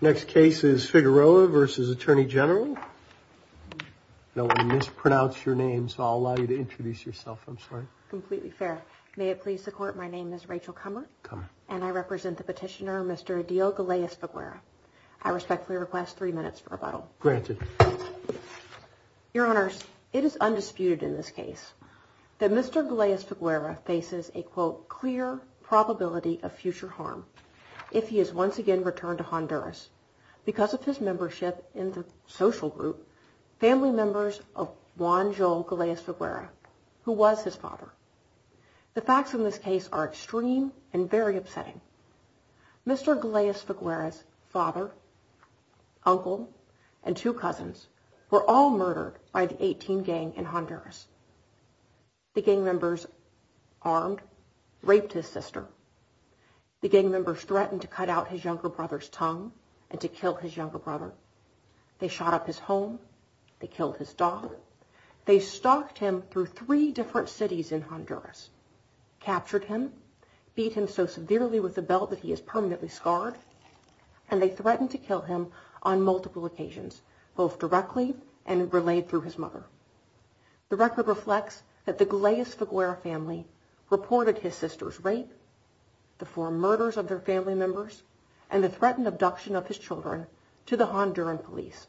Next case is Figueroa v. Attorney General. I know I mispronounced your name, so I'll allow you to introduce yourself. I'm sorry. Completely fair. May it please the Court, my name is Rachel Kummer. Kummer. And I represent the petitioner, Mr. Adil Galeas-Figueroa. I respectfully request three minutes for rebuttal. Granted. Your Honors, it is undisputed in this case that Mr. Galeas-Figueroa faces a, quote, of future harm if he is once again returned to Honduras because of his membership in the social group, family members of Juan Joel Galeas-Figueroa, who was his father. The facts in this case are extreme and very upsetting. Mr. Galeas-Figueroa's father, uncle, and two cousins were all murdered by the 18 gang in Honduras. The gang members armed, raped his sister. The gang members threatened to cut out his younger brother's tongue and to kill his younger brother. They shot up his home. They killed his dog. They stalked him through three different cities in Honduras, captured him, beat him so severely with a belt that he is permanently scarred, and they threatened to kill him on multiple occasions, both directly and relayed through his mother. The record reflects that the Galeas-Figueroa family reported his sister's rape, the four murders of their family members, and the threatened abduction of his children to the Honduran police,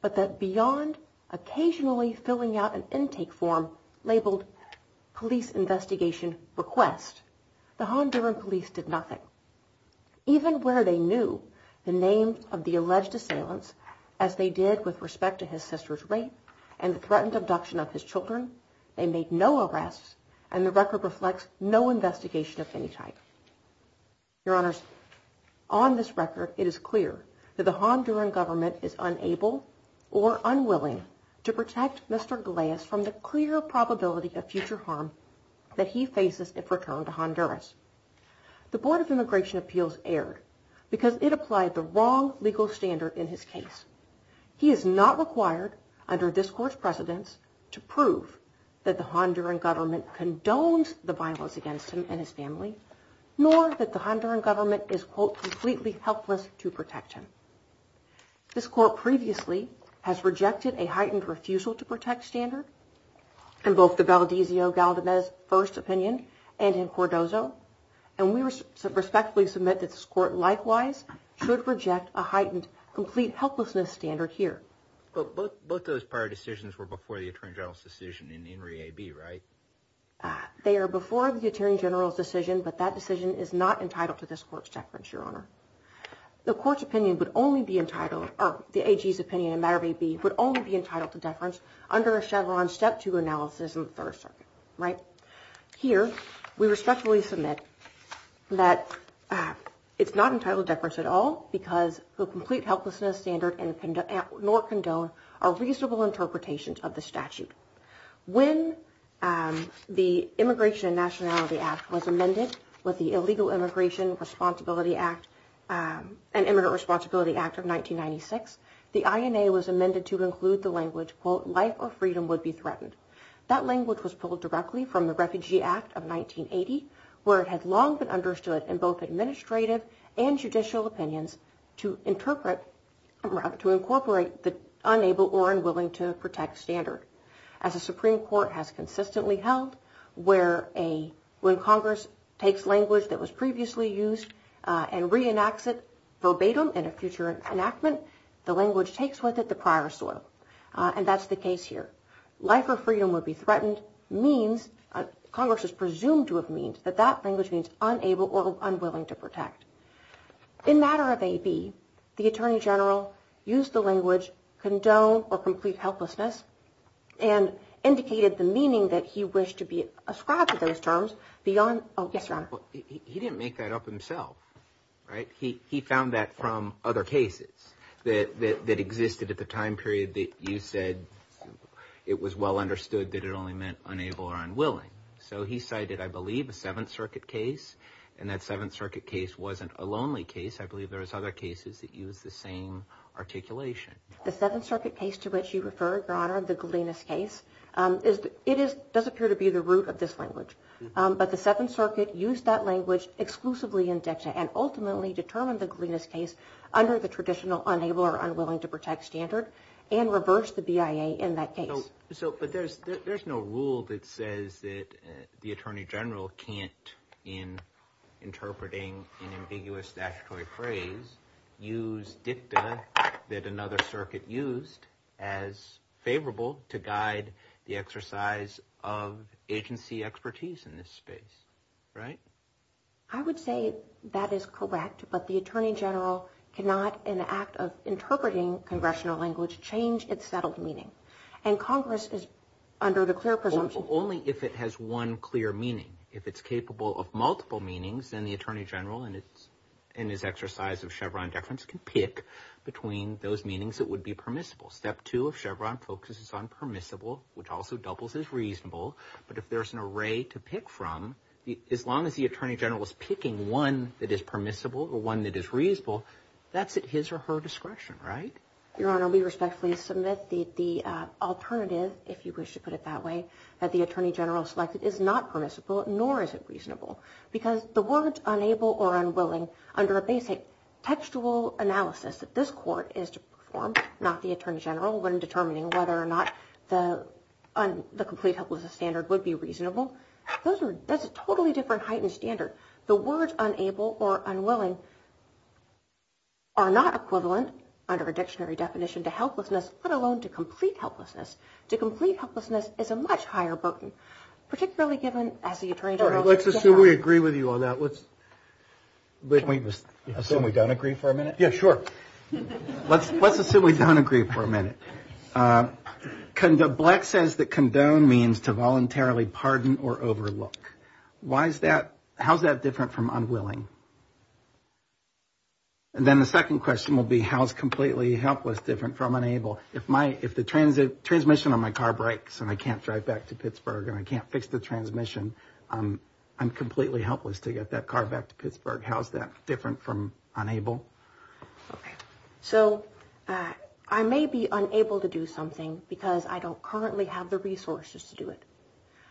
but that beyond occasionally filling out an intake form labeled police investigation request, the Honduran police did nothing. Even where they knew the name of the alleged assailants, as they did with respect to his sister's rape and the threatened abduction of his children, they made no arrests, and the record reflects no investigation of any type. Your Honors, on this record, it is clear that the Honduran government is unable or unwilling to protect Mr. Galeas from the clear probability of future harm that he faces if returned to Honduras. The Board of Immigration Appeals erred because it applied the wrong legal standard in his case. He is not required under this court's precedence to prove that the Honduran government condones the violence against him and his family, nor that the Honduran government is, quote, completely helpless to protect him. This court previously has rejected a heightened refusal to protect standard, in both the Valdezio-Galdamez First Opinion and in Cordozo, and we respectfully submit that this court likewise should reject a heightened complete helplessness standard here. But both those prior decisions were before the Attorney General's decision in INRI-AB, right? They are before the Attorney General's decision, but that decision is not entitled to this court's deference, Your Honor. The court's opinion would only be entitled, or the AG's opinion in matter of AB, would only be entitled to deference under a Chevron Step 2 analysis in the Third Circuit, right? Here, we respectfully submit that it's not entitled to deference at all because the complete helplessness standard, nor condone, are reasonable interpretations of the statute. When the Immigration and Nationality Act was amended with the Illegal Immigration Responsibility Act and Immigrant Responsibility Act of 1996, the INA was amended to include the language, quote, life or freedom would be threatened. That language was pulled directly from the Refugee Act of 1980, where it had long been understood in both administrative and judicial opinions to incorporate the unable or unwilling to protect standard. As the Supreme Court has consistently held, when Congress takes language that was previously used and reenacts it verbatim in a future enactment, the language takes with it the prior soil. And that's the case here. Life or freedom would be threatened means, Congress is presumed to have means, that that language means unable or unwilling to protect. In matter of AB, the Attorney General used the language condone or complete helplessness and indicated the meaning that he wished to be ascribed to those terms beyond... Oh, yes, Your Honor. He didn't make that up himself, right? He found that from other cases that existed at the time period that you said it was well understood that it only meant unable or unwilling. So he cited, I believe, a Seventh Circuit case, and that Seventh Circuit case wasn't a lonely case. I believe there was other cases that used the same articulation. The Seventh Circuit case to which you refer, Your Honor, the Galenus case, it does appear to be the root of this language. But the Seventh Circuit used that language exclusively in Dexia and ultimately determined the Galenus case under the traditional unable or unwilling to protect standard and reversed the BIA in that case. But there's no rule that says that the Attorney General can't, in interpreting an ambiguous statutory phrase, use dicta that another circuit used as favorable to guide the exercise of agency expertise in this space, right? I would say that is correct, but the Attorney General cannot, in the act of interpreting congressional language, change its settled meaning. And Congress is under the clear presumption... Only if it has one clear meaning. If it's capable of multiple meanings, then the Attorney General, in his exercise of Chevron deference, can pick between those meanings that would be permissible. Step two of Chevron focuses on permissible, which also doubles as reasonable. But if there's an array to pick from, as long as the Attorney General is picking one that is permissible or one that is reasonable, that's at his or her discretion, right? Your Honor, we respectfully submit the alternative, if you wish to put it that way, that the Attorney General selected is not permissible, nor is it reasonable. Because the words unable or unwilling, under a basic textual analysis that this Court is to perform, not the Attorney General, when determining whether or not the complete helplessness standard would be reasonable, that's a totally different heightened standard. The words unable or unwilling are not equivalent, under a dictionary definition, to helplessness, let alone to complete helplessness. To complete helplessness is a much higher burden, particularly given, as the Attorney General... All right, let's assume we agree with you on that. Let's assume we don't agree for a minute. Yeah, sure. Let's assume we don't agree for a minute. Black says that condone means to voluntarily pardon or overlook. How is that different from unwilling? And then the second question will be, how is completely helpless different from unable? If the transmission on my car breaks and I can't drive back to Pittsburgh and I can't fix the transmission, I'm completely helpless to get that car back to Pittsburgh. How is that different from unable? Okay. So, I may be unable to do something because I don't currently have the resources to do it.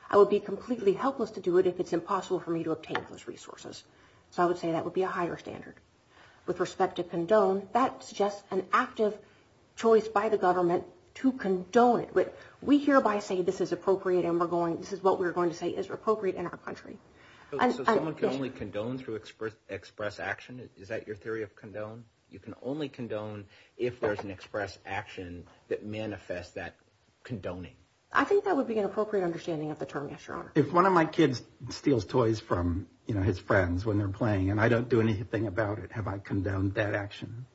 I would be completely helpless to do it if it's impossible for me to obtain those resources. So, I would say that would be a higher standard. With respect to condone, that's just an active choice by the government to condone it. We hereby say this is appropriate and this is what we're going to say is appropriate in our country. So, someone can only condone through express action? Is that your theory of condone? You can only condone if there's an express action that manifests that condoning. I think that would be an appropriate understanding of the term, yes, Your Honor. If one of my kids steals toys from, you know, his friends when they're playing and I don't do anything about it, have I condoned that action?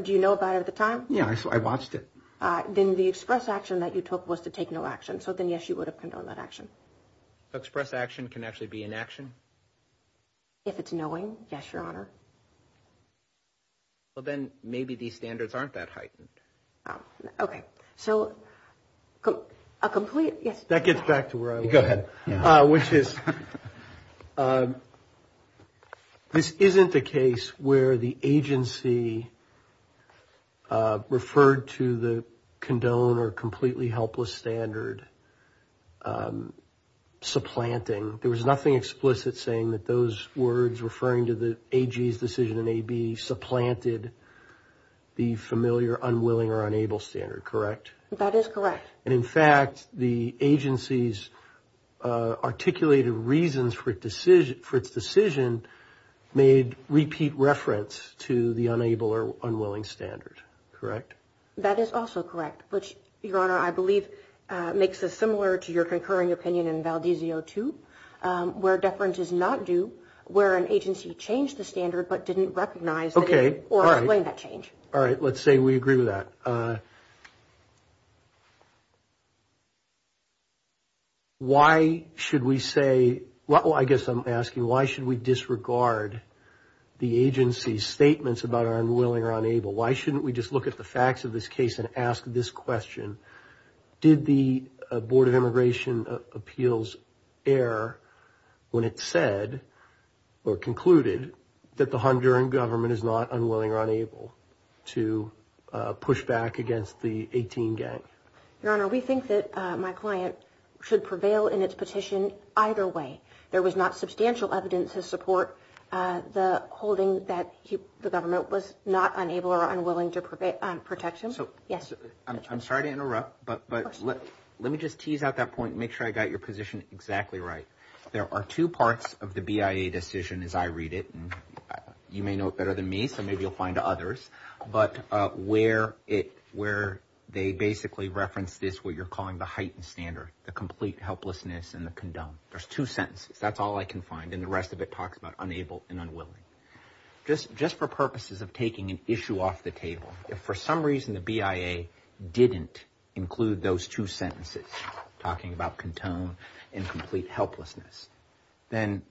Do you know about it at the time? Yeah, I watched it. Then the express action that you took was to take no action. So, then yes, you would have condoned that action. Express action can actually be an action? If it's knowing, yes, Your Honor. Well, then maybe these standards aren't that heightened. Okay. So, a complete... That gets back to where I was. Go ahead. Which is, this isn't a case where the agency referred to the condone or completely helpless standard supplanting. There was nothing explicit saying that those words referring to the AG's decision in AB supplanted the familiar unwilling or unable standard, correct? That is correct. And, in fact, the agency's articulated reasons for its decision made repeat reference to the unable or unwilling standard, correct? That is also correct, which, Your Honor, I believe makes us similar to your concurring opinion in Valdezio 2 where deference is not due, where an agency changed the standard but didn't recognize or explain that change. Okay, all right. All right, let's say we agree with that. Why should we say... Well, I guess I'm asking, why should we disregard the agency's statements about our unwilling or unable? Why shouldn't we just look at the facts of this case and ask this question? Did the Board of Immigration Appeals err when it said or concluded that the Honduran government is not unwilling or unable to push back on its decision? To push back against the 18 gang? Your Honor, we think that my client should prevail in its petition either way. There was not substantial evidence to support the holding that the government was not unable or unwilling to protect him. So, I'm sorry to interrupt, but let me just tease out that point and make sure I got your position exactly right. There are two parts of the BIA decision as I read it, and you may know it better than me, so maybe you'll find others, where they basically reference this, what you're calling the heightened standard, the complete helplessness and the condone. There's two sentences, that's all I can find, and the rest of it talks about unable and unwilling. Just for purposes of taking an issue off the table, if for some reason the BIA didn't include those two sentences, talking about condone and complete helplessness, then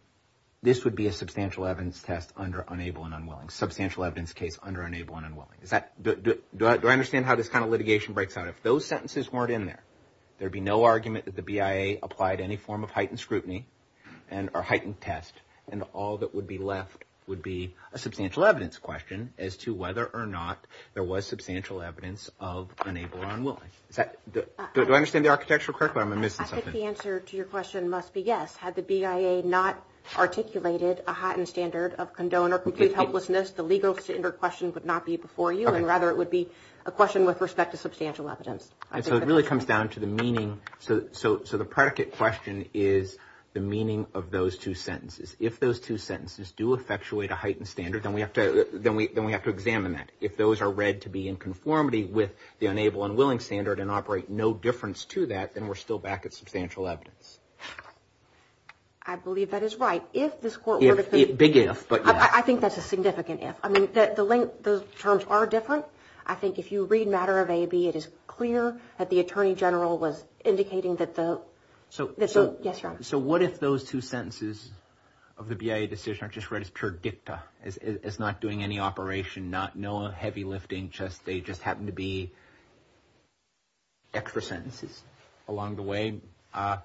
this would be a substantial evidence test under unable and unwilling. Substantial evidence case under unable and unwilling. Do I understand how this kind of litigation breaks out? If those sentences weren't in there, there'd be no argument that the BIA applied any form of heightened scrutiny or heightened test, and all that would be left would be a substantial evidence question as to whether or not there was substantial evidence of unable and unwilling. Do I understand the architecture correctly or am I missing something? I think the answer to your question must be yes. Had the BIA not articulated a heightened standard of condone or complete helplessness, the legal standard question would not be before you, and rather it would be a question with respect to substantial evidence. So it really comes down to the meaning. So the predicate question is the meaning of those two sentences. If those two sentences do effectuate a heightened standard, then we have to examine that. If those are read to be in conformity with the unable and willing standard and operate no difference to that, then we're still back at substantial evidence. I believe that is right. Big if, but yes. I mean, the terms are different. I think if you read matter of AB, it is clear that the Attorney General was indicating that the... Yes, Your Honor. So what if those two sentences of the BIA decision are just read as pure dicta, as not doing any operation, no heavy lifting, they just happen to be extra sentences along the way, and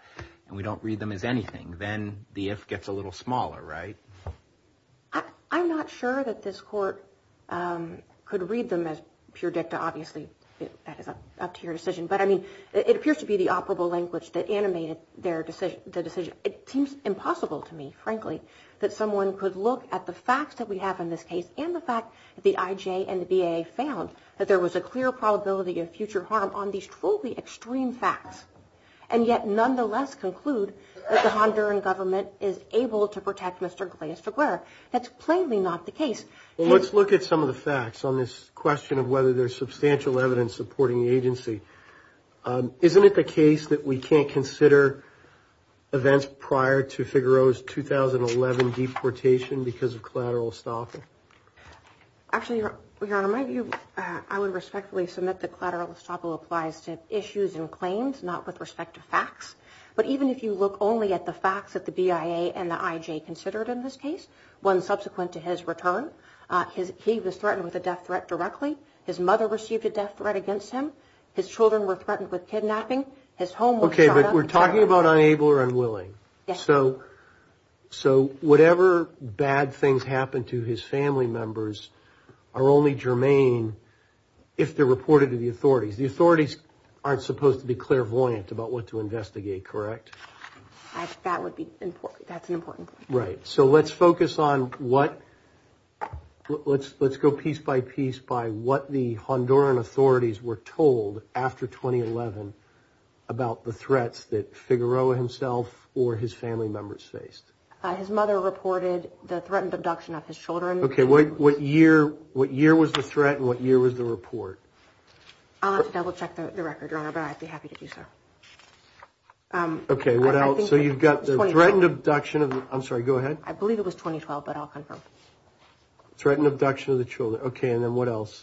we don't read them as anything, then the if gets a little smaller, right? I'm not sure that this question of whether the court could read them as pure dicta. Obviously, that is up to your decision. But I mean, it appears to be the operable language that animated the decision. It seems impossible to me, frankly, that someone could look at the facts that we have in this case and the fact that the IJ and the BIA found that there was a clear probability of future harm on these truly extreme facts and yet nonetheless conclude that the Honduran government is able to protect Mr. Galeas-Aguirre. That's plainly not the case. Let's look at some of the facts on this question of whether there's substantial evidence supporting the agency. Isn't it the case that we can't consider events prior to Figaro's 2011 deportation because of collateral estoppel? Actually, Your Honor, I would respectfully submit that collateral estoppel applies to issues and claims, not with respect to facts. But even if you look only at the facts that the BIA and the IJ considered in this case, one subsequent to his return, he was threatened with a death threat directly. His mother received a death threat against him. His children were threatened with kidnapping. His home was shut up. Okay, but we're talking about unable or unwilling. Yes. So whatever bad things happen to his family members are only germane if they're reported to the authorities. The authorities aren't supposed to be clairvoyant about what to investigate, correct? That would be important. That's an important point. Right. So let's focus on what... Let's go piece by piece by what the Honduran authorities were told after 2011 about the threats that Figaro himself or his family members faced. His mother reported the threatened abduction of his children. Okay, what year was the threat and what year was the report? I'll have to double-check the record, Your Honor, but I'd be happy to do so. Okay, what else? So you've got the threatened abduction of... I believe it was 2012, but I'll confirm. Threatened abduction of the children. Okay, and then what else?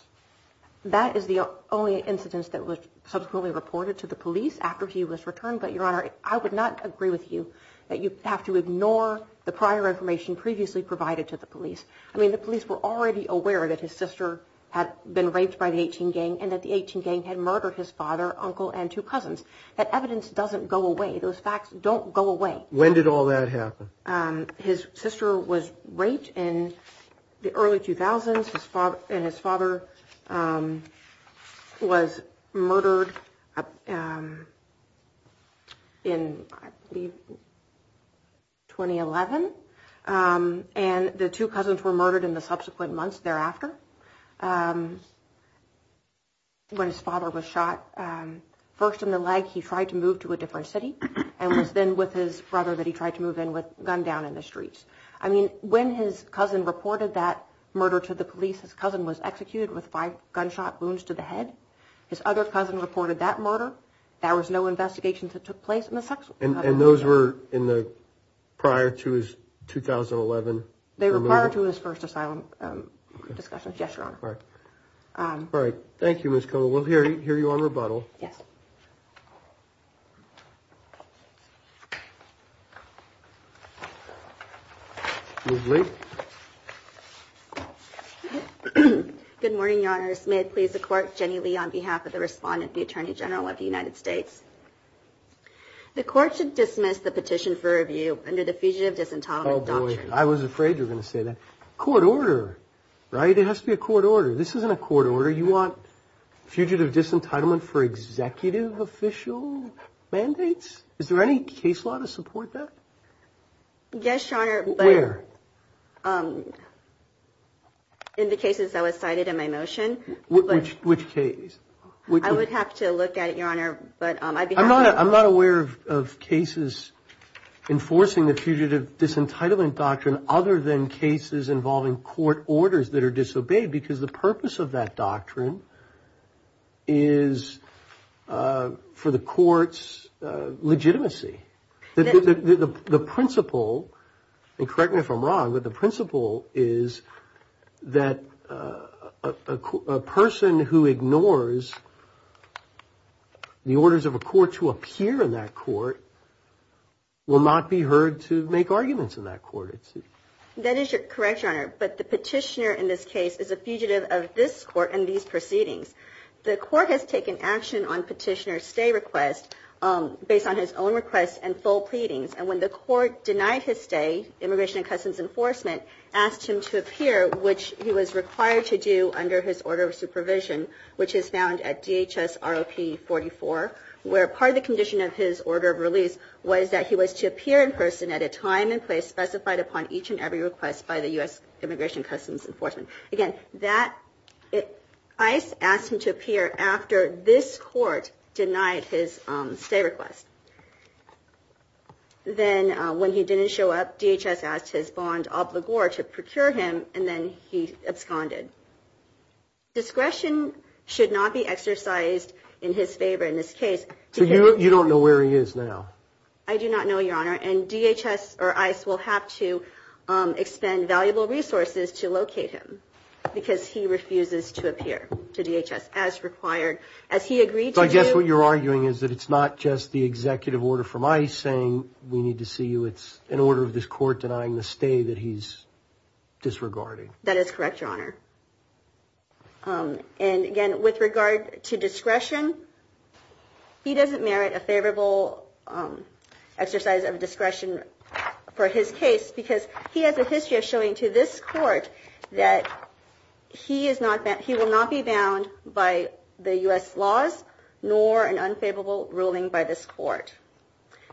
That is the only incidence that was subsequently reported to the police after he was returned, but, Your Honor, I would not agree with you that you have to ignore the prior information previously provided to the police. I mean, the police were already aware that his sister had been raped by the 18 Gang and that the 18 Gang had murdered his father, uncle, and two cousins. That evidence doesn't go away. Those facts don't go away. His sister was raped in the early 2000s and his father was murdered in, I believe, 2011, and the two cousins were murdered in the subsequent months thereafter. When his father was shot, first in the leg, he tried to move to a different city and was then with his brother that he tried to move in with a gun down in the streets. I mean, when his cousin reported that murder to the police, his cousin was executed with five gunshot wounds to the head. His other cousin reported that murder. There was no investigation that took place in the subsequent months thereafter. And those were prior to his 2011 removal? They were prior to his first asylum discussions, yes, Your Honor. All right. All right. Thank you, Ms. Koehl. We'll hear you on rebuttal. Yes. Ms. Lee. Good morning, Your Honors. May it please the Court, Jenny Lee on behalf of the respondent, the Attorney General of the United States. The Court should dismiss the petition for review under the Fugitive Disentitlement Doctrine. Oh, boy, I was afraid you were going to say that. Court order, right? It has to be a court order. This isn't a court order. These are executive official mandates. Is there any case law to support that? Yes, Your Honor. Where? In the cases that were cited in my motion. Which case? I would have to look at it, Your Honor. But I'd be happy to. I'm not aware of cases enforcing the Fugitive Disentitlement Doctrine other than cases involving court orders that are disobeyed because the purpose of that doctrine is for the court's legitimacy. The principle, and correct me if I'm wrong, but the principle is that a person who ignores the orders of a court to appear in that court will not be heard to make arguments in that court. That is correct, Your Honor. But the petitioner in this case is a fugitive of this court and has no proceedings. The court has taken action on petitioner's stay request based on his own request and full pleadings. And when the court denied his stay, Immigration and Customs Enforcement asked him to appear, which he was required to do under his order of supervision, which is found at DHS ROP 44, where part of the condition of his order of release was that he was to appear in person at a time and place and DHS asked him to appear after this court denied his stay request. Then when he didn't show up, DHS asked his bond obligor to procure him and then he absconded. Discretion should not be exercised in his favor in this case. So you don't know where he is now? I do not know, Your Honor, and DHS or ICE will have to expend valuable resources to locate him because he refuses to appear at DHS as required. As he agreed to do. So I guess what you're arguing is that it's not just the executive order from ICE saying we need to see you, it's an order of this court denying the stay that he's disregarding. That is correct, Your Honor. And again, with regard to discretion, he doesn't merit a favorable exercise of discretion for his case because he has a history of showing to this court that he is not, by the U.S. laws, nor an unfavorable ruling by this court.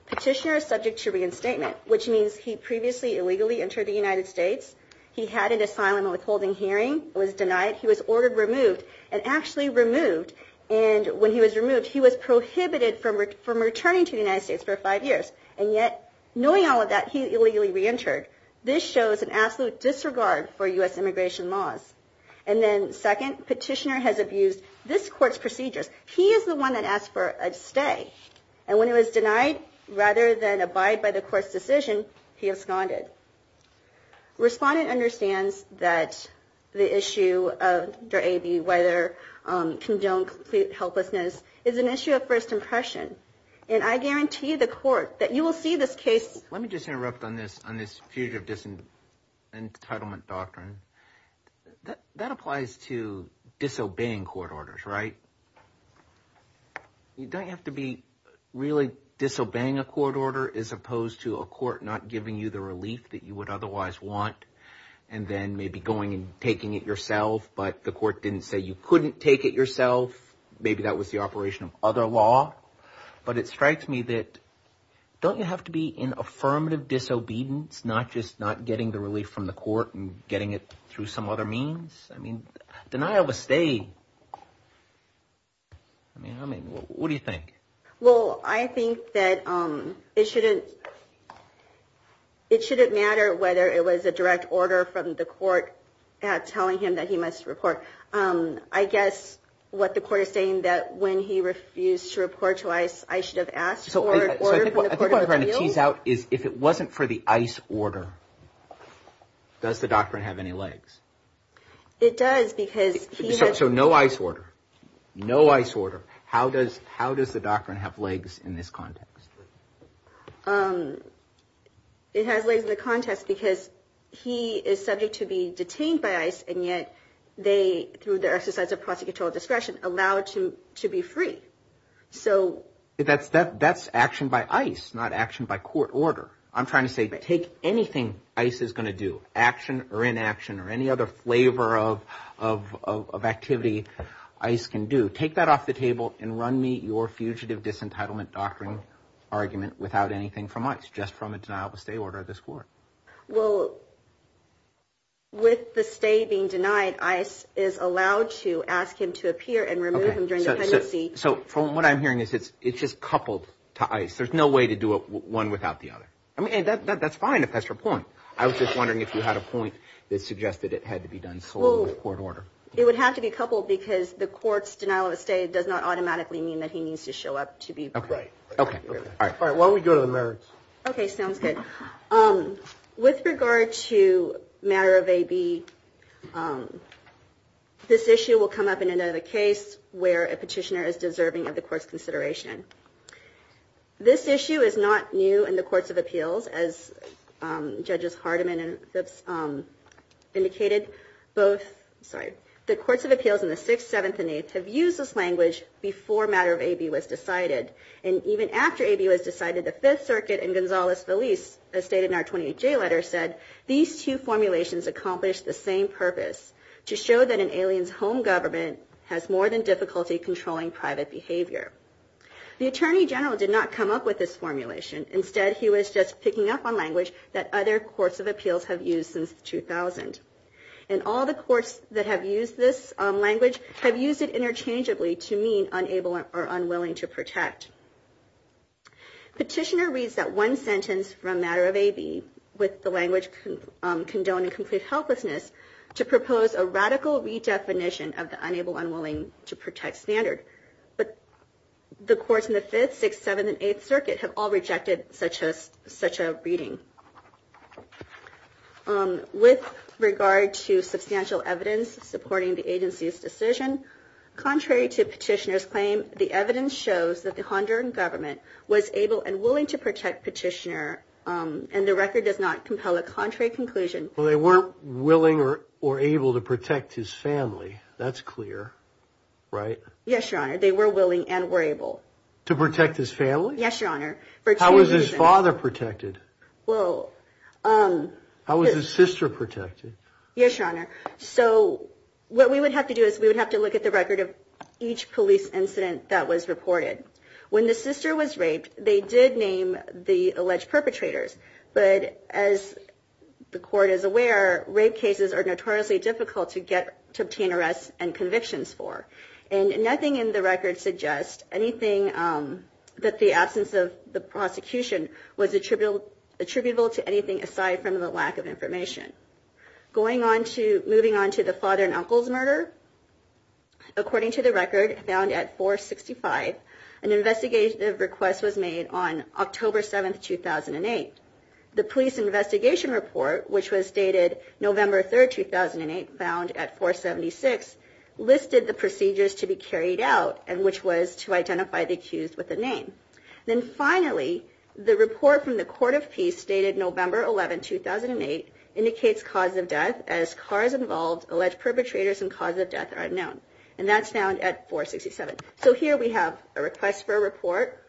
Petitioner is subject to reinstatement, which means he previously illegally entered the United States, he had an asylum withholding hearing, was denied, he was ordered removed and actually removed and when he was removed, he was prohibited from returning to the United States for five years and yet knowing all of that, he illegally reentered. This shows an absolute disregard for the court's decision to use this court's procedures. He is the one that asked for a stay and when he was denied, rather than abide by the court's decision, he absconded. Respondent understands that the issue of whether condone complete helplessness is an issue of first impression and I guarantee the court that you will see this case... Let me just interrupt on this fugitive entitlement doctrine. That applies to all court orders, right? You don't have to be really disobeying a court order as opposed to a court not giving you the relief that you would otherwise want and then maybe going and taking it yourself but the court didn't say you couldn't take it yourself, maybe that was the operation of other law but it strikes me that don't you have to be in affirmative disobedience, not just not getting the relief from the court and getting it through some other means? I mean, what do you think? Well, I think that it shouldn't... it shouldn't matter whether it was a direct order from the court telling him that he must report. I guess what the court is saying that when he refused to report to ICE I should have asked for an order from the court of appeals? I think what I'm trying to tease out is if it wasn't for the ICE order, does the doctrine have any legs? It does because... So no ICE order. No ICE order. How does the doctrine have legs in this context? It has legs in the context because he is subject to be detained by ICE and yet they, through their exercise of prosecutorial discretion, allow him to be free. That's action by ICE, not action by court order. I'm trying to say there's no other flavor of activity ICE can do. Take that off the table and run me your fugitive disentitlement doctrine argument without anything from ICE, just from a denial of stay order of this court. Well, with the stay being denied, ICE is allowed to ask him to appear and remove him during the pendency. So from what I'm hearing it's just coupled to ICE. There's no way to do one without the other. I mean, that's fine if that's your point. I was just wondering if you had a point that suggested it had to be done slowly with court order. It would have to be coupled because the court's denial of stay does not automatically mean that he needs to show up to be free. Okay. While we go to the merits. Okay, sounds good. With regard to matter of AB, this issue will come up in another case where a petitioner is deserving of the court's consideration. This issue is not new in the courts of appeals as Judges Hardiman and Phipps indicated. Both, sorry, the courts of appeals in the 6th, 7th, and 8th have used this language before matter of AB was decided. And even after AB was decided, the 5th Circuit and Gonzalez Feliz stated in our 28J letter said, these two formulations accomplish the same purpose. To show that an alien's home government has more than difficulty controlling private behavior. The Attorney General did not come up with this formulation. Instead, he was just picking up on language that other courts of appeals have used since 2000. And all the courts that have used this language have used it interchangeably to mean unable or unwilling to protect. Petitioner reads that one sentence from matter of AB with the language condoning complete helplessness to propose a radical redefinition of the unable unwilling to protect standard. But the courts in the 5th, 6th, 7th, and 8th Circuit have all rejected such a reading. With regard to substantial evidence supporting the agency's contrary to Petitioner's claim, the evidence shows that the Honduran government was able and willing to protect Petitioner and the record does not compel a contrary conclusion. Well, they weren't willing or able to protect his family. That's clear. Right? Yes, Your Honor. They were willing and were able. To protect his family? Yes, Your Honor. How was his father protected? Well... How was his sister protected? Yes, Your Honor. So, what we would have to do is we would have to look at the record of each police incident that was reported. When the sister was raped, they did name the alleged perpetrators. But, as the court is aware, rape cases are notoriously difficult to get to obtain arrests and convictions for. And nothing in the record suggests anything that the absence of the prosecution was attributable to anything aside from the lack of information. Going on to... Moving on to the father and uncle's murder, according to the record, found at 465, an investigative request was made on October 7, 2008. The police investigation report, which was dated November 3, 2008, found at 476, listed the procedures to be carried out, and which was to identify the accused with a name. Then finally, the report from the Court of Peace dated November 11, 2008, indicates cause of death. As cars involved, alleged perpetrators and cause of death are unknown. And that's found at 467. So here we have a request for a report,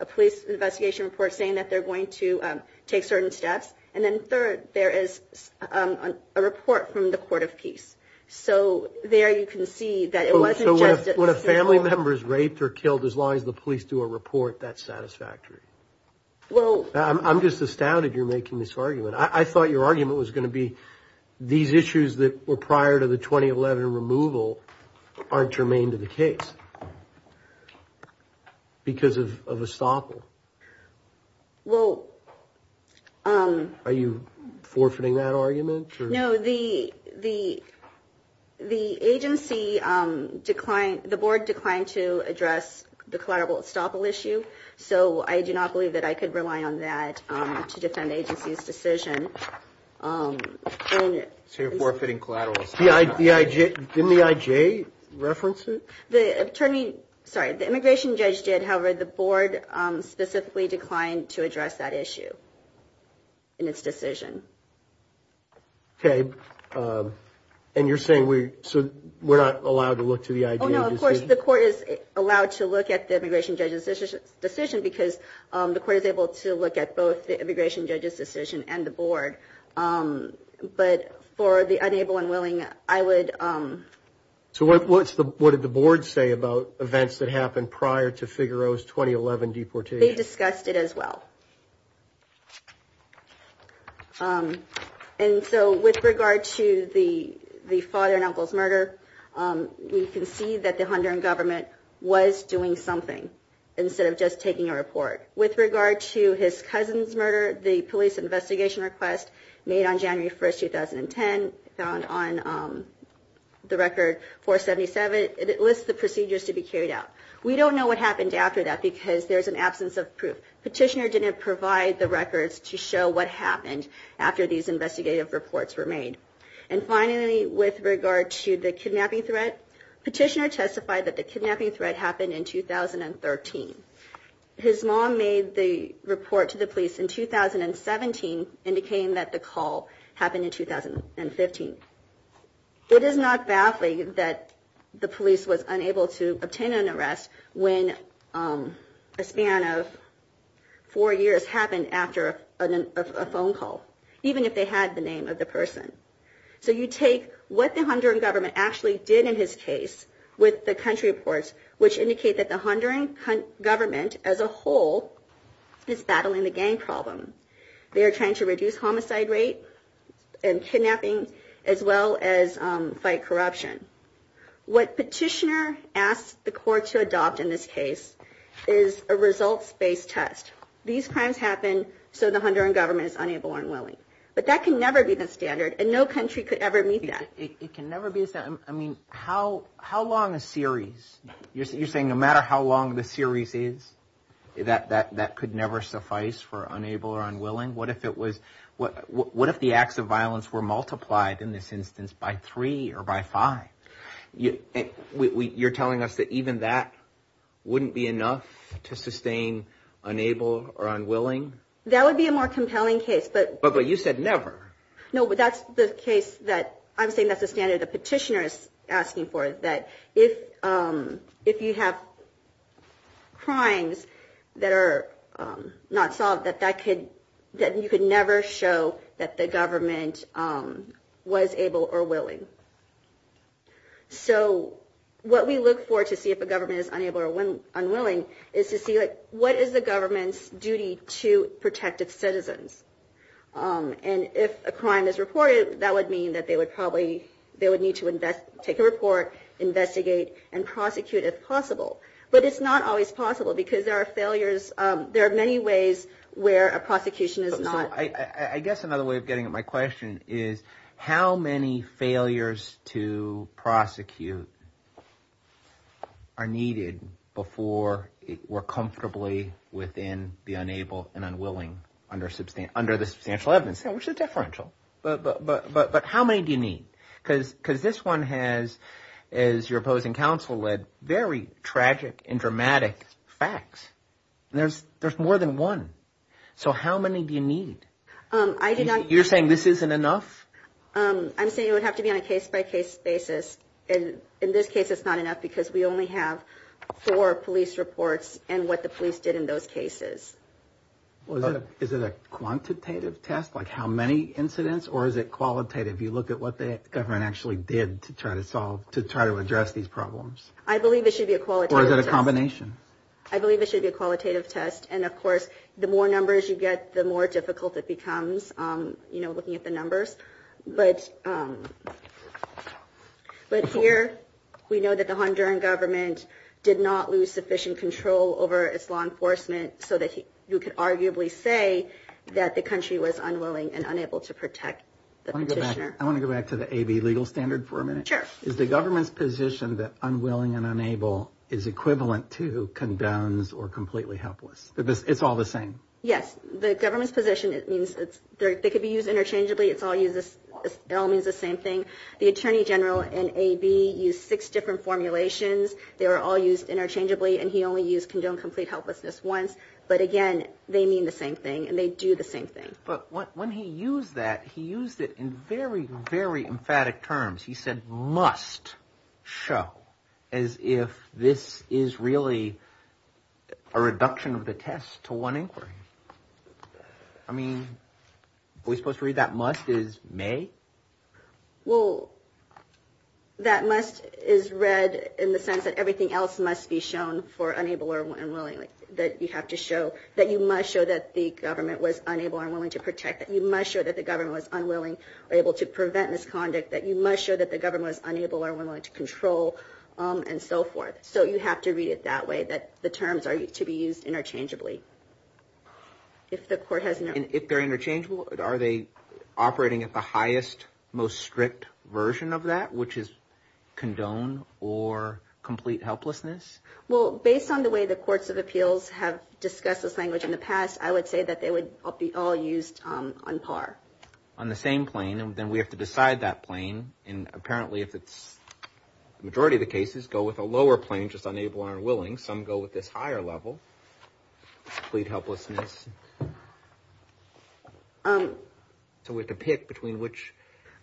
a police investigation report saying that they're going to take certain steps, and then third, there is a report from the Court of Peace. So, there you can see that it wasn't just... So when a family member is raped or killed, as long as the police do a report, that's satisfactory? Well... I'm just astounded you're making this argument. I thought your argument was going to be these issues that were prior to the 2011 removal aren't germane to the case because of estoppel. Well... Are you forfeiting that argument? No, the agency declined, the board declined to address the collateral estoppel issue, so I do not believe that I could rely on that to defend the agency's decision. So you're forfeiting collateral estoppel? Didn't the I.J. reference it? The attorney... Sorry, the immigration judge did, however the board specifically declined to address that issue in its decision. Okay. And you're saying we're not allowed to look to the I.J. decision? Oh no, of course, the court is allowed to look at the immigration judge's decision because the court is able to look at both the immigration judge's decision and the board. But for the unable and willing, I would... So what did the board say about events that happened prior to Figueroa's 2011 deportation? They discussed it as well. And so with regard to the father and uncle's murder, we can see that the Honduran government was doing something. Instead of just taking a report. With regard to his cousin's murder, the police investigation request made on January 1st, 2010, found on the record 477, it lists the procedures to be carried out. We don't know what happened after that because there's an absence of proof. Petitioner didn't provide the records to show what happened after these investigative reports were made. And finally, with regard to the kidnapping threat, Petitioner testified that the kidnapping threat happened in 2013. His mom made the report to the police in 2017, indicating that the call happened in 2015. It is not baffling that the police was unable to obtain an arrest when a span of four years happened after a phone call, even if they had the name of the person. So you take what the Honduran government actually did in his case with the country reports, which indicate that the Honduran government as a whole is battling the gang problem. They are trying to reduce homicide rate and kidnapping as well as fight corruption. What Petitioner asked the court to adopt in this case is a results-based test. These crimes happen so the Honduran government is unable and unwilling. But that can never be the standard, and no country could ever meet that. It can never be the standard. I mean, how long a series You're saying no matter how long the series is, that could never suffice for unable or unwilling? What if it was, what if the acts of violence were multiplied in this instance by three or by five? You're telling us that even that wouldn't be enough to sustain unable or unwilling? That would be a more compelling case, but But you said never. No, but that's the case that I'm saying that's the standard that Petitioner is asking for, that if you have crimes that are not solved, that you could never show that the government was able or willing. So what we look for to see if a government is unable or unwilling is to see what is the government's duty to protect its citizens. And if a crime is reported, that would mean that they would probably, they would need to invest, take a report, investigate, and prosecute if possible. But it's not always possible because there are failures, there are many ways where a prosecution is not I guess another way of getting at my question is how many failures to prosecute are needed before we're comfortably within the unable and unwilling under the substantial evidence, which is differential. But how many do you need? Because this one has, as your opposing counsel led, very tragic and dramatic facts. There's more than one. So how many do you need? You're saying this isn't enough? I'm saying it would have to be on a case-by-case basis. In this case, it's not enough because we only have four police reports and what the police did in those cases. Is it a quantitative test, like how many incidents, or is it qualitative? You look at what the government actually did to try to solve, to try to address these problems. I believe it should be a qualitative test. Or is it a combination? I believe it should be a qualitative test. And of course, the more numbers you get, the more difficult it becomes looking at the numbers. But here we know that the Honduran government did not lose sufficient control over its law enforcement so that you could arguably say that the country was unwilling and unable to protect the petitioner. I want to go back to the AB legal standard for a minute. Sure. Is the government's position that unwilling and unable is equivalent to condones or completely helpless? It's all the same? Yes. The government's position, it means they could be used interchangeably. It all means the same thing. The Attorney General in AB used six different formulations. They were all used interchangeably and he only used condone complete helplessness once. But again, they mean the same thing and they do the same thing. But when he used that, he used it in very, very emphatic terms. He said must show as if this is really a reduction of the test to one inquiry. I mean, are we supposed to read that must as may? Well, that must is read in the sense that everything else must be shown for unable and unwilling, that you have to show, that you must show that the government was unable and unwilling to protect, that you must show that the government was unwilling or able to prevent misconduct, that you must show that the government was unable or unwilling to control, and so forth. So you have to read it that way, that the terms are to be used interchangeably. If they're interchangeable, are they operating at the highest, most strict version of that, which is condone or complete helplessness? Well, based on the way the courts of appeals have discussed this language in the past, I would say that they would all be used on par. On the same plane, and then we have to decide that plane, and apparently, if it's, the majority of the cases go with a lower plane, just unable and unwilling. Some go with this higher level, complete helplessness. So we have to pick between which,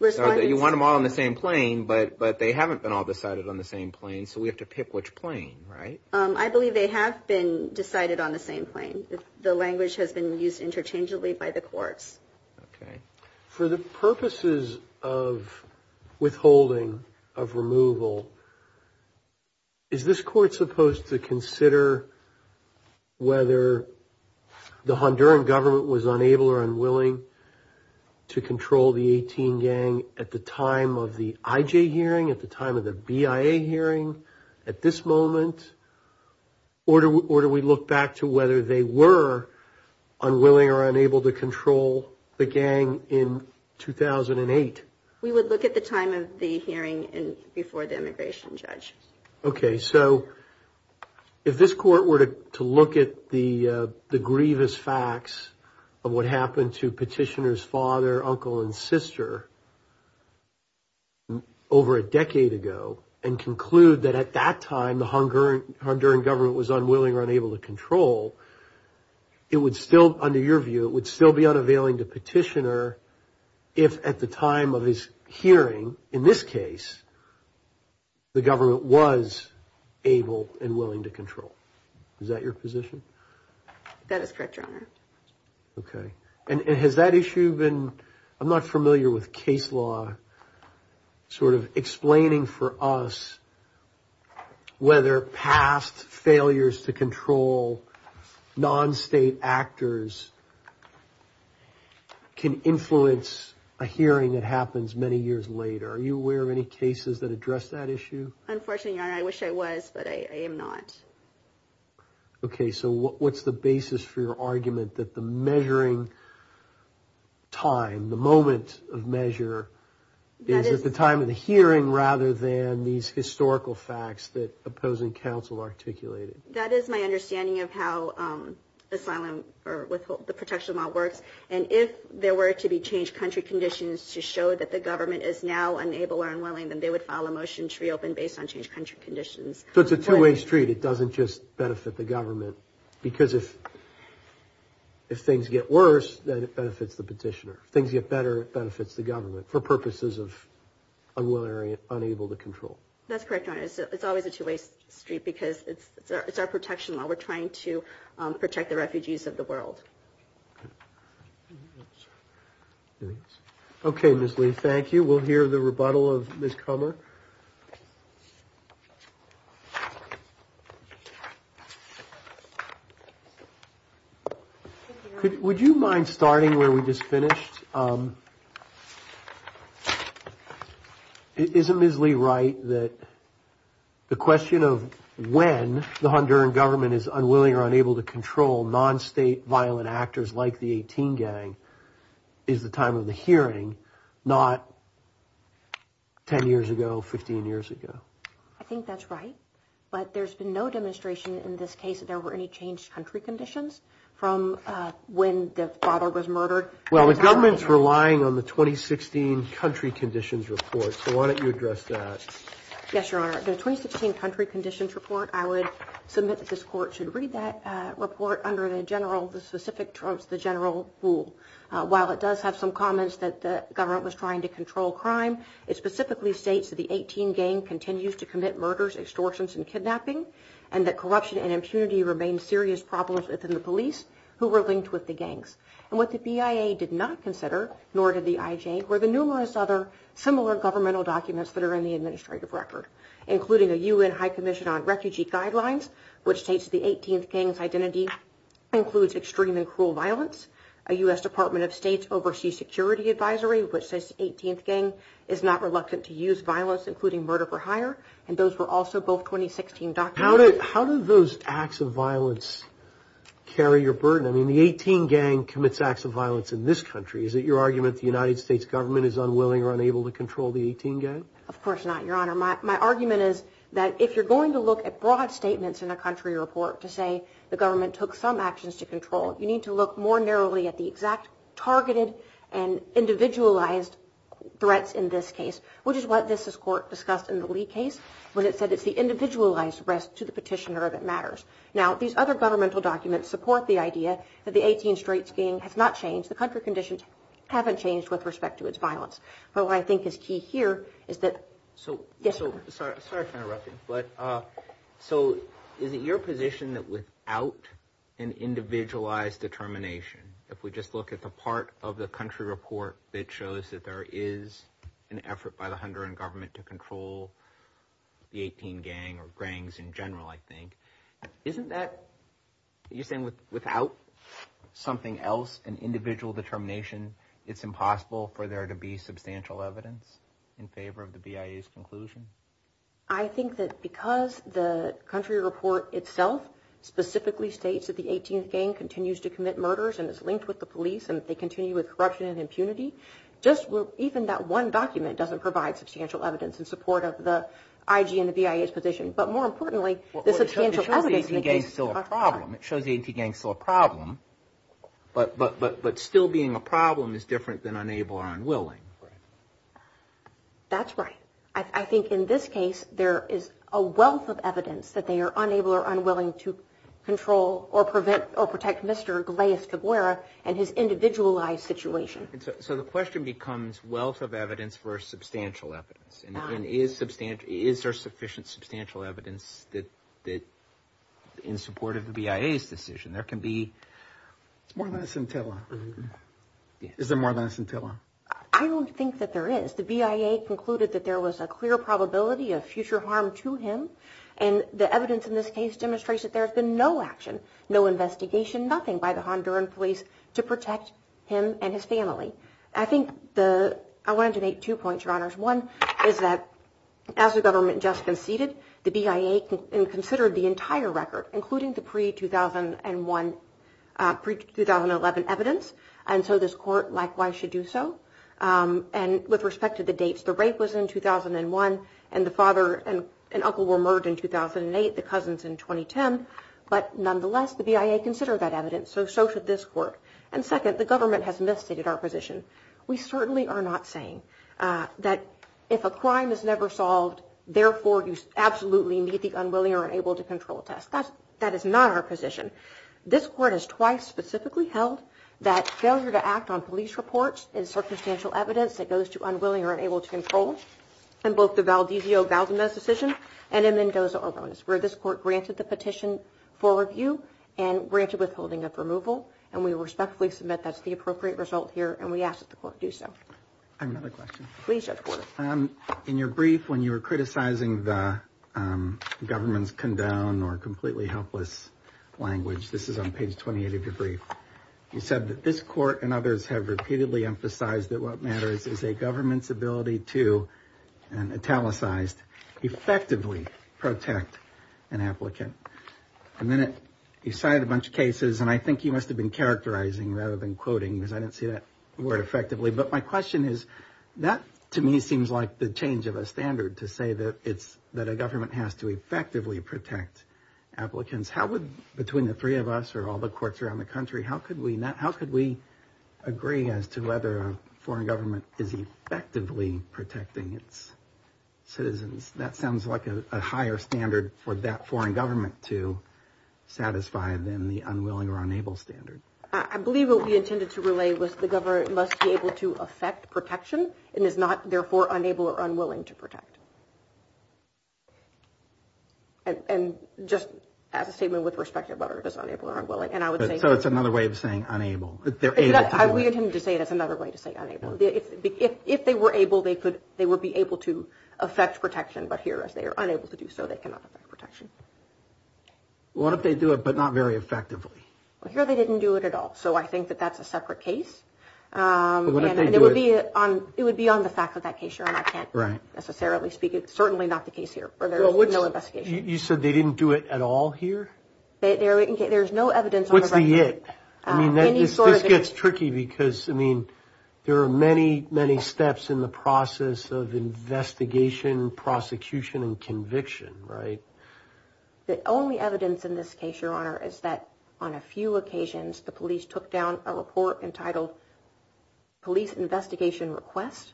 so you want them all on the same plane, but they haven't been all decided on the same plane, so we have to pick which plane, right? I believe they have been decided on the same plane. The language has been used interchangeably by the courts. Okay. For the purposes of withholding, of removal, is this court supposed to consider whether the Honduran government was unable or unwilling to control the 18 gang at the time of the IJ hearing, at the time of the BIA hearing, at this moment, or do we look back to whether they were unwilling or unable to control the gang in 2008? We would look at the time of the hearing before the immigration judge. Okay. So if this court were to look at the grievous facts of what happened to petitioner's father, uncle, and sister over a decade ago, and conclude that at that time, the Honduran government was unwilling or unable to control, it would still, under your view, it would still be unavailing to petitioner if at the time of his hearing, in this case, the government was able and willing to control. Is that your position? That is correct, Your Honor. Okay. And has that issue been, I'm not familiar with case law, sort of explaining for us whether past failures to control non-state actors can influence a hearing that happens many years later? Are you aware of any cases that address that issue? Unfortunately, Your Honor, I wish I was, but I am not. Okay. So what's the basis for your argument that the measuring time, the moment of measure, is at the time of the hearing rather than these historical facts that opposing counsel articulated? That is my understanding of how asylum, or with the protection law works, and if there were to be changed country conditions to show that the government is now unable or unwilling, then they would file a motion to reopen based on changed country conditions. So it's a two-way street. It doesn't just benefit the government, because if things get worse, then it benefits the petitioner. If things get better, it benefits the government for purposes of unwilling or unable to control. That's correct, Your Honor. It's always a two-way street, because it's our protection law. We're trying to protect the refugees of the world. Okay, Ms. Lee, thank you. We'll hear the rebuttal of Ms. Kummer. Would you mind starting where we just finished? Is it Ms. Lee right that the question of when the Honduran government is unwilling or unable to control non-state violent actors like the 18 gang is the time of the hearing, not 10 years ago, 15 years ago? I think that's right, but there's been no demonstration in this case that there were any changed country conditions from when the father was murdered Well, the government's relying on the 2016 country conditions report, so why don't you address that? Yes, Your Honor. The 2016 country conditions report, I would submit that this court should read that report under the general, the specific terms, the general rule. While it does have some comments that the government was trying to control crime, it specifically states that the 18 gang continues to commit murders, extortions, and kidnapping, and that corruption and impunity remain serious problems within the police who were linked with the gangs. And what the BIA did not consider, nor did the IJ, were the numerous other similar governmental documents that are in the administrative record, including a UN High Commission on Refugee Guidelines, which states the 18th gang's identity includes extreme and cruel violence, a U.S. Department of State's Overseas Security Advisory, which says the 18th gang is not reluctant to use violence, including murder for hire, and those were also both 2016 documents. How did those acts of violence carry your burden? I mean, the 18th gang commits acts of violence in this country. Is it your argument the United States government is unwilling or unable to control the 18th gang? Of course not, Your Honor. My argument is that if you're going to look at broad statements in a country report to say the government took some actions to control, you need to look more narrowly at the exact targeted and individualized threats in this case, which is what this court discussed in the Lee case, when it said it's the individualized risk to the petitioner that matters. Now, these other governmental documents support the idea that the 18th Straits gang has not changed. The country conditions haven't changed with respect to its violence. But what I think is key here is that... So... Yes, Your Honor. Sorry for interrupting, but so is it your position that without an individualized determination, if we just look at the part of the country report that shows that there is an effort by the Honduran government to control the 18th gang or gangs in general, I think, isn't that... You're saying without something else, an individual determination, it's impossible for there to be substantial evidence in favor of the BIA's conclusion? I think that because the country report itself specifically states that the 18th gang continues to commit murders and is linked with the police and that they continue with corruption and impunity, substantial evidence in support of the IG and the BIA's position. But more importantly, the substantial evidence... Well, it shows the 18th gang is still a problem. It shows the 18th gang is still a problem, but still being a problem is different than unable or unwilling. That's right. I think in this case, there is a wealth of evidence that they are unable or unwilling to control or protect Mr. Galeas Taguera and his individualized situation. So the question becomes wealth of evidence versus substantial evidence. And is there sufficient substantial evidence in support of the BIA's decision? There can be... More than a scintilla. Is there more than a scintilla? I don't think that there is. The BIA concluded that there was a clear probability of future harm to him. And the evidence in this case demonstrates that there has been no action, no investigation, nothing by the Honduran police to protect him and his family. I think the... I wanted to make two points, Your Honors. One is that as the government just conceded, the BIA considered the entire record, including the pre-2001... pre-2011 evidence. And so this court likewise should do so. And with respect to the dates, the rape was in 2001 and the father and uncle were murdered in 2008, the cousins in 2010. But nonetheless, the BIA considered that evidence, so so should this court. And second, the government has misstated our position. We certainly are not saying that if a crime is never solved, therefore, you absolutely need the unwilling or unable to control test. That is not our position. This court has twice specifically held that failure to act on police reports is circumstantial evidence that goes to unwilling or unable to control in both the Valdezio-Valdez decision and in Mendoza-Oronis, where this court granted the petition for review and granted withholding of removal. And we respectfully submit that's the appropriate result here, and we ask that the court do so. I have another question. Please, Judge Porter. In your brief, when you were criticizing the government's condoned or completely helpless language, this is on page 28 of your brief, you said that this court and others have repeatedly emphasized that what matters is a government's ability to, italicized, effectively protect an applicant. And then you cited a bunch of cases, and I think you must have been characterizing rather than quoting, because I didn't see that word effectively. But my question is, that, to me, seems like the change of a standard to say that a government has to effectively protect applicants. How would, between the three of us or all the courts around the country, how could we agree as to whether a foreign government is effectively protecting its citizens? That sounds like a higher standard for that foreign government to satisfy than the unwilling or unable standard. I believe what we intended to relay was the government must be able to affect protection and is not, therefore, unable or unwilling to protect. And just as a statement with respect to whether it is unable or unwilling, and I would say... So it's another way of saying unable. They're able to do it. We intended to say that's another way to say unable. If they were able, they would be able to affect protection. But here, as they are unable to do so, they cannot affect protection. What if they do it, but not very effectively? Well, here they didn't do it at all. So I think that that's a separate case. And it would be on the fact that that case, Your Honor, I can't necessarily speak... It's certainly not the case here where there's no investigation. You said they didn't do it at all here? There's no evidence... What's the it? I mean, this gets tricky because, I mean, there are many, many steps in the process of investigation, prosecution, and conviction, right? The only evidence in this case, Your Honor, is that on a few occasions the police took down a report entitled Police Investigation Request.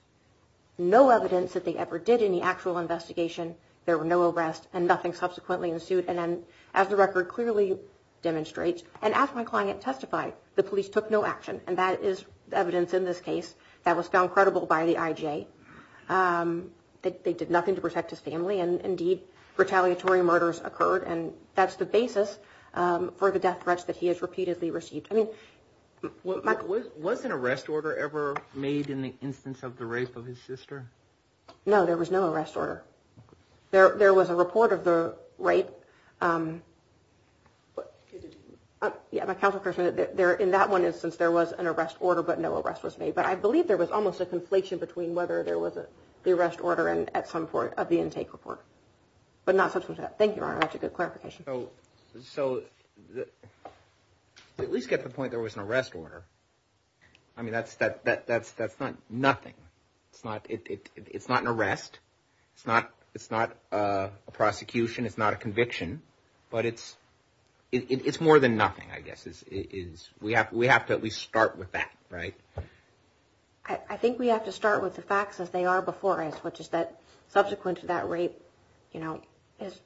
No evidence that they ever did any actual investigation. There were no arrests, and nothing subsequently ensued. And as the record clearly demonstrates, and as my client testified, the police took no action. And that is evidence in this case that was found credible by the IJ. They did nothing to protect his family, and indeed, retaliatory murders occurred. And that's the basis for the death threats that he has repeatedly received. Was an arrest order ever made in the instance of the rape of his sister? No, there was no arrest order. There was a report of the rape. In that one instance, there was an arrest order, but no arrest was made. But I believe there was almost a conflation between whether there was the arrest order at some point of the intake report. But not subsequently. Thank you, Your Honor. That's a good clarification. So, at least get the point there was an arrest order. I mean, that's not nothing. It's not an arrest. It's not a prosecution. It's not a conviction. But it's more than nothing, I guess. We have to at least start with that, right? I think we have to start with the facts as they are before us, which is that subsequent to that rape, you know, his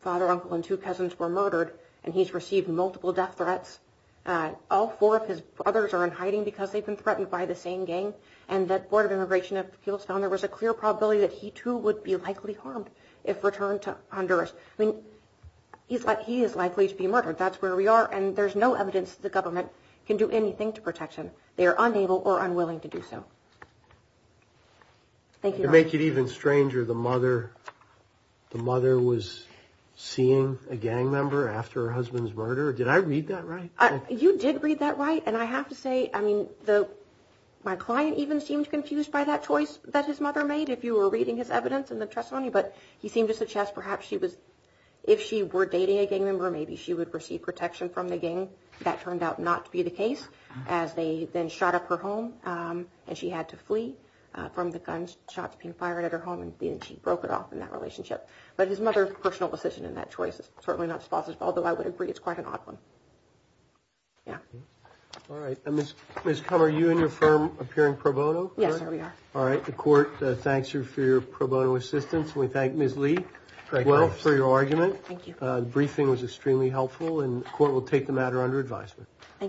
father, uncle, and two cousins were murdered, and he's received multiple death threats. All four of his brothers are in hiding because they've been threatened by the same gang. And that Board of Immigration of Kegels found there was a clear probability that he, too, would be likely harmed if returned to Honduras. I mean, he is likely to be murdered. That's where we are. And there's no evidence the government can do anything to protect him. They are unable or unwilling to do so. Thank you, Your Honor. It's even stranger, the mother was seeing a gang member after her husband's murder. Did I read that right? You did read that right. And I have to say, I mean, my client even seemed confused by that choice that his mother made, if you were reading his evidence in the testimony. But he seemed to suggest perhaps if she were dating a gang member, maybe she would receive protection from the gang. That turned out not to be the case as they then shot up her home, and she had to flee from the gunshots being fired at her home, and she broke it off in that relationship. But his mother's personal decision in that choice is certainly not as plausible, although I would agree it's quite an odd one. Yeah. All right. Ms. Kummer, are you and your firm appearing pro bono? Yes, sir, we are. All right. The court thanks you for your pro bono assistance. We thank Ms. Lee as well for your argument. Thank you. The briefing was extremely helpful, and the court will take the matter under advisement. Thank you.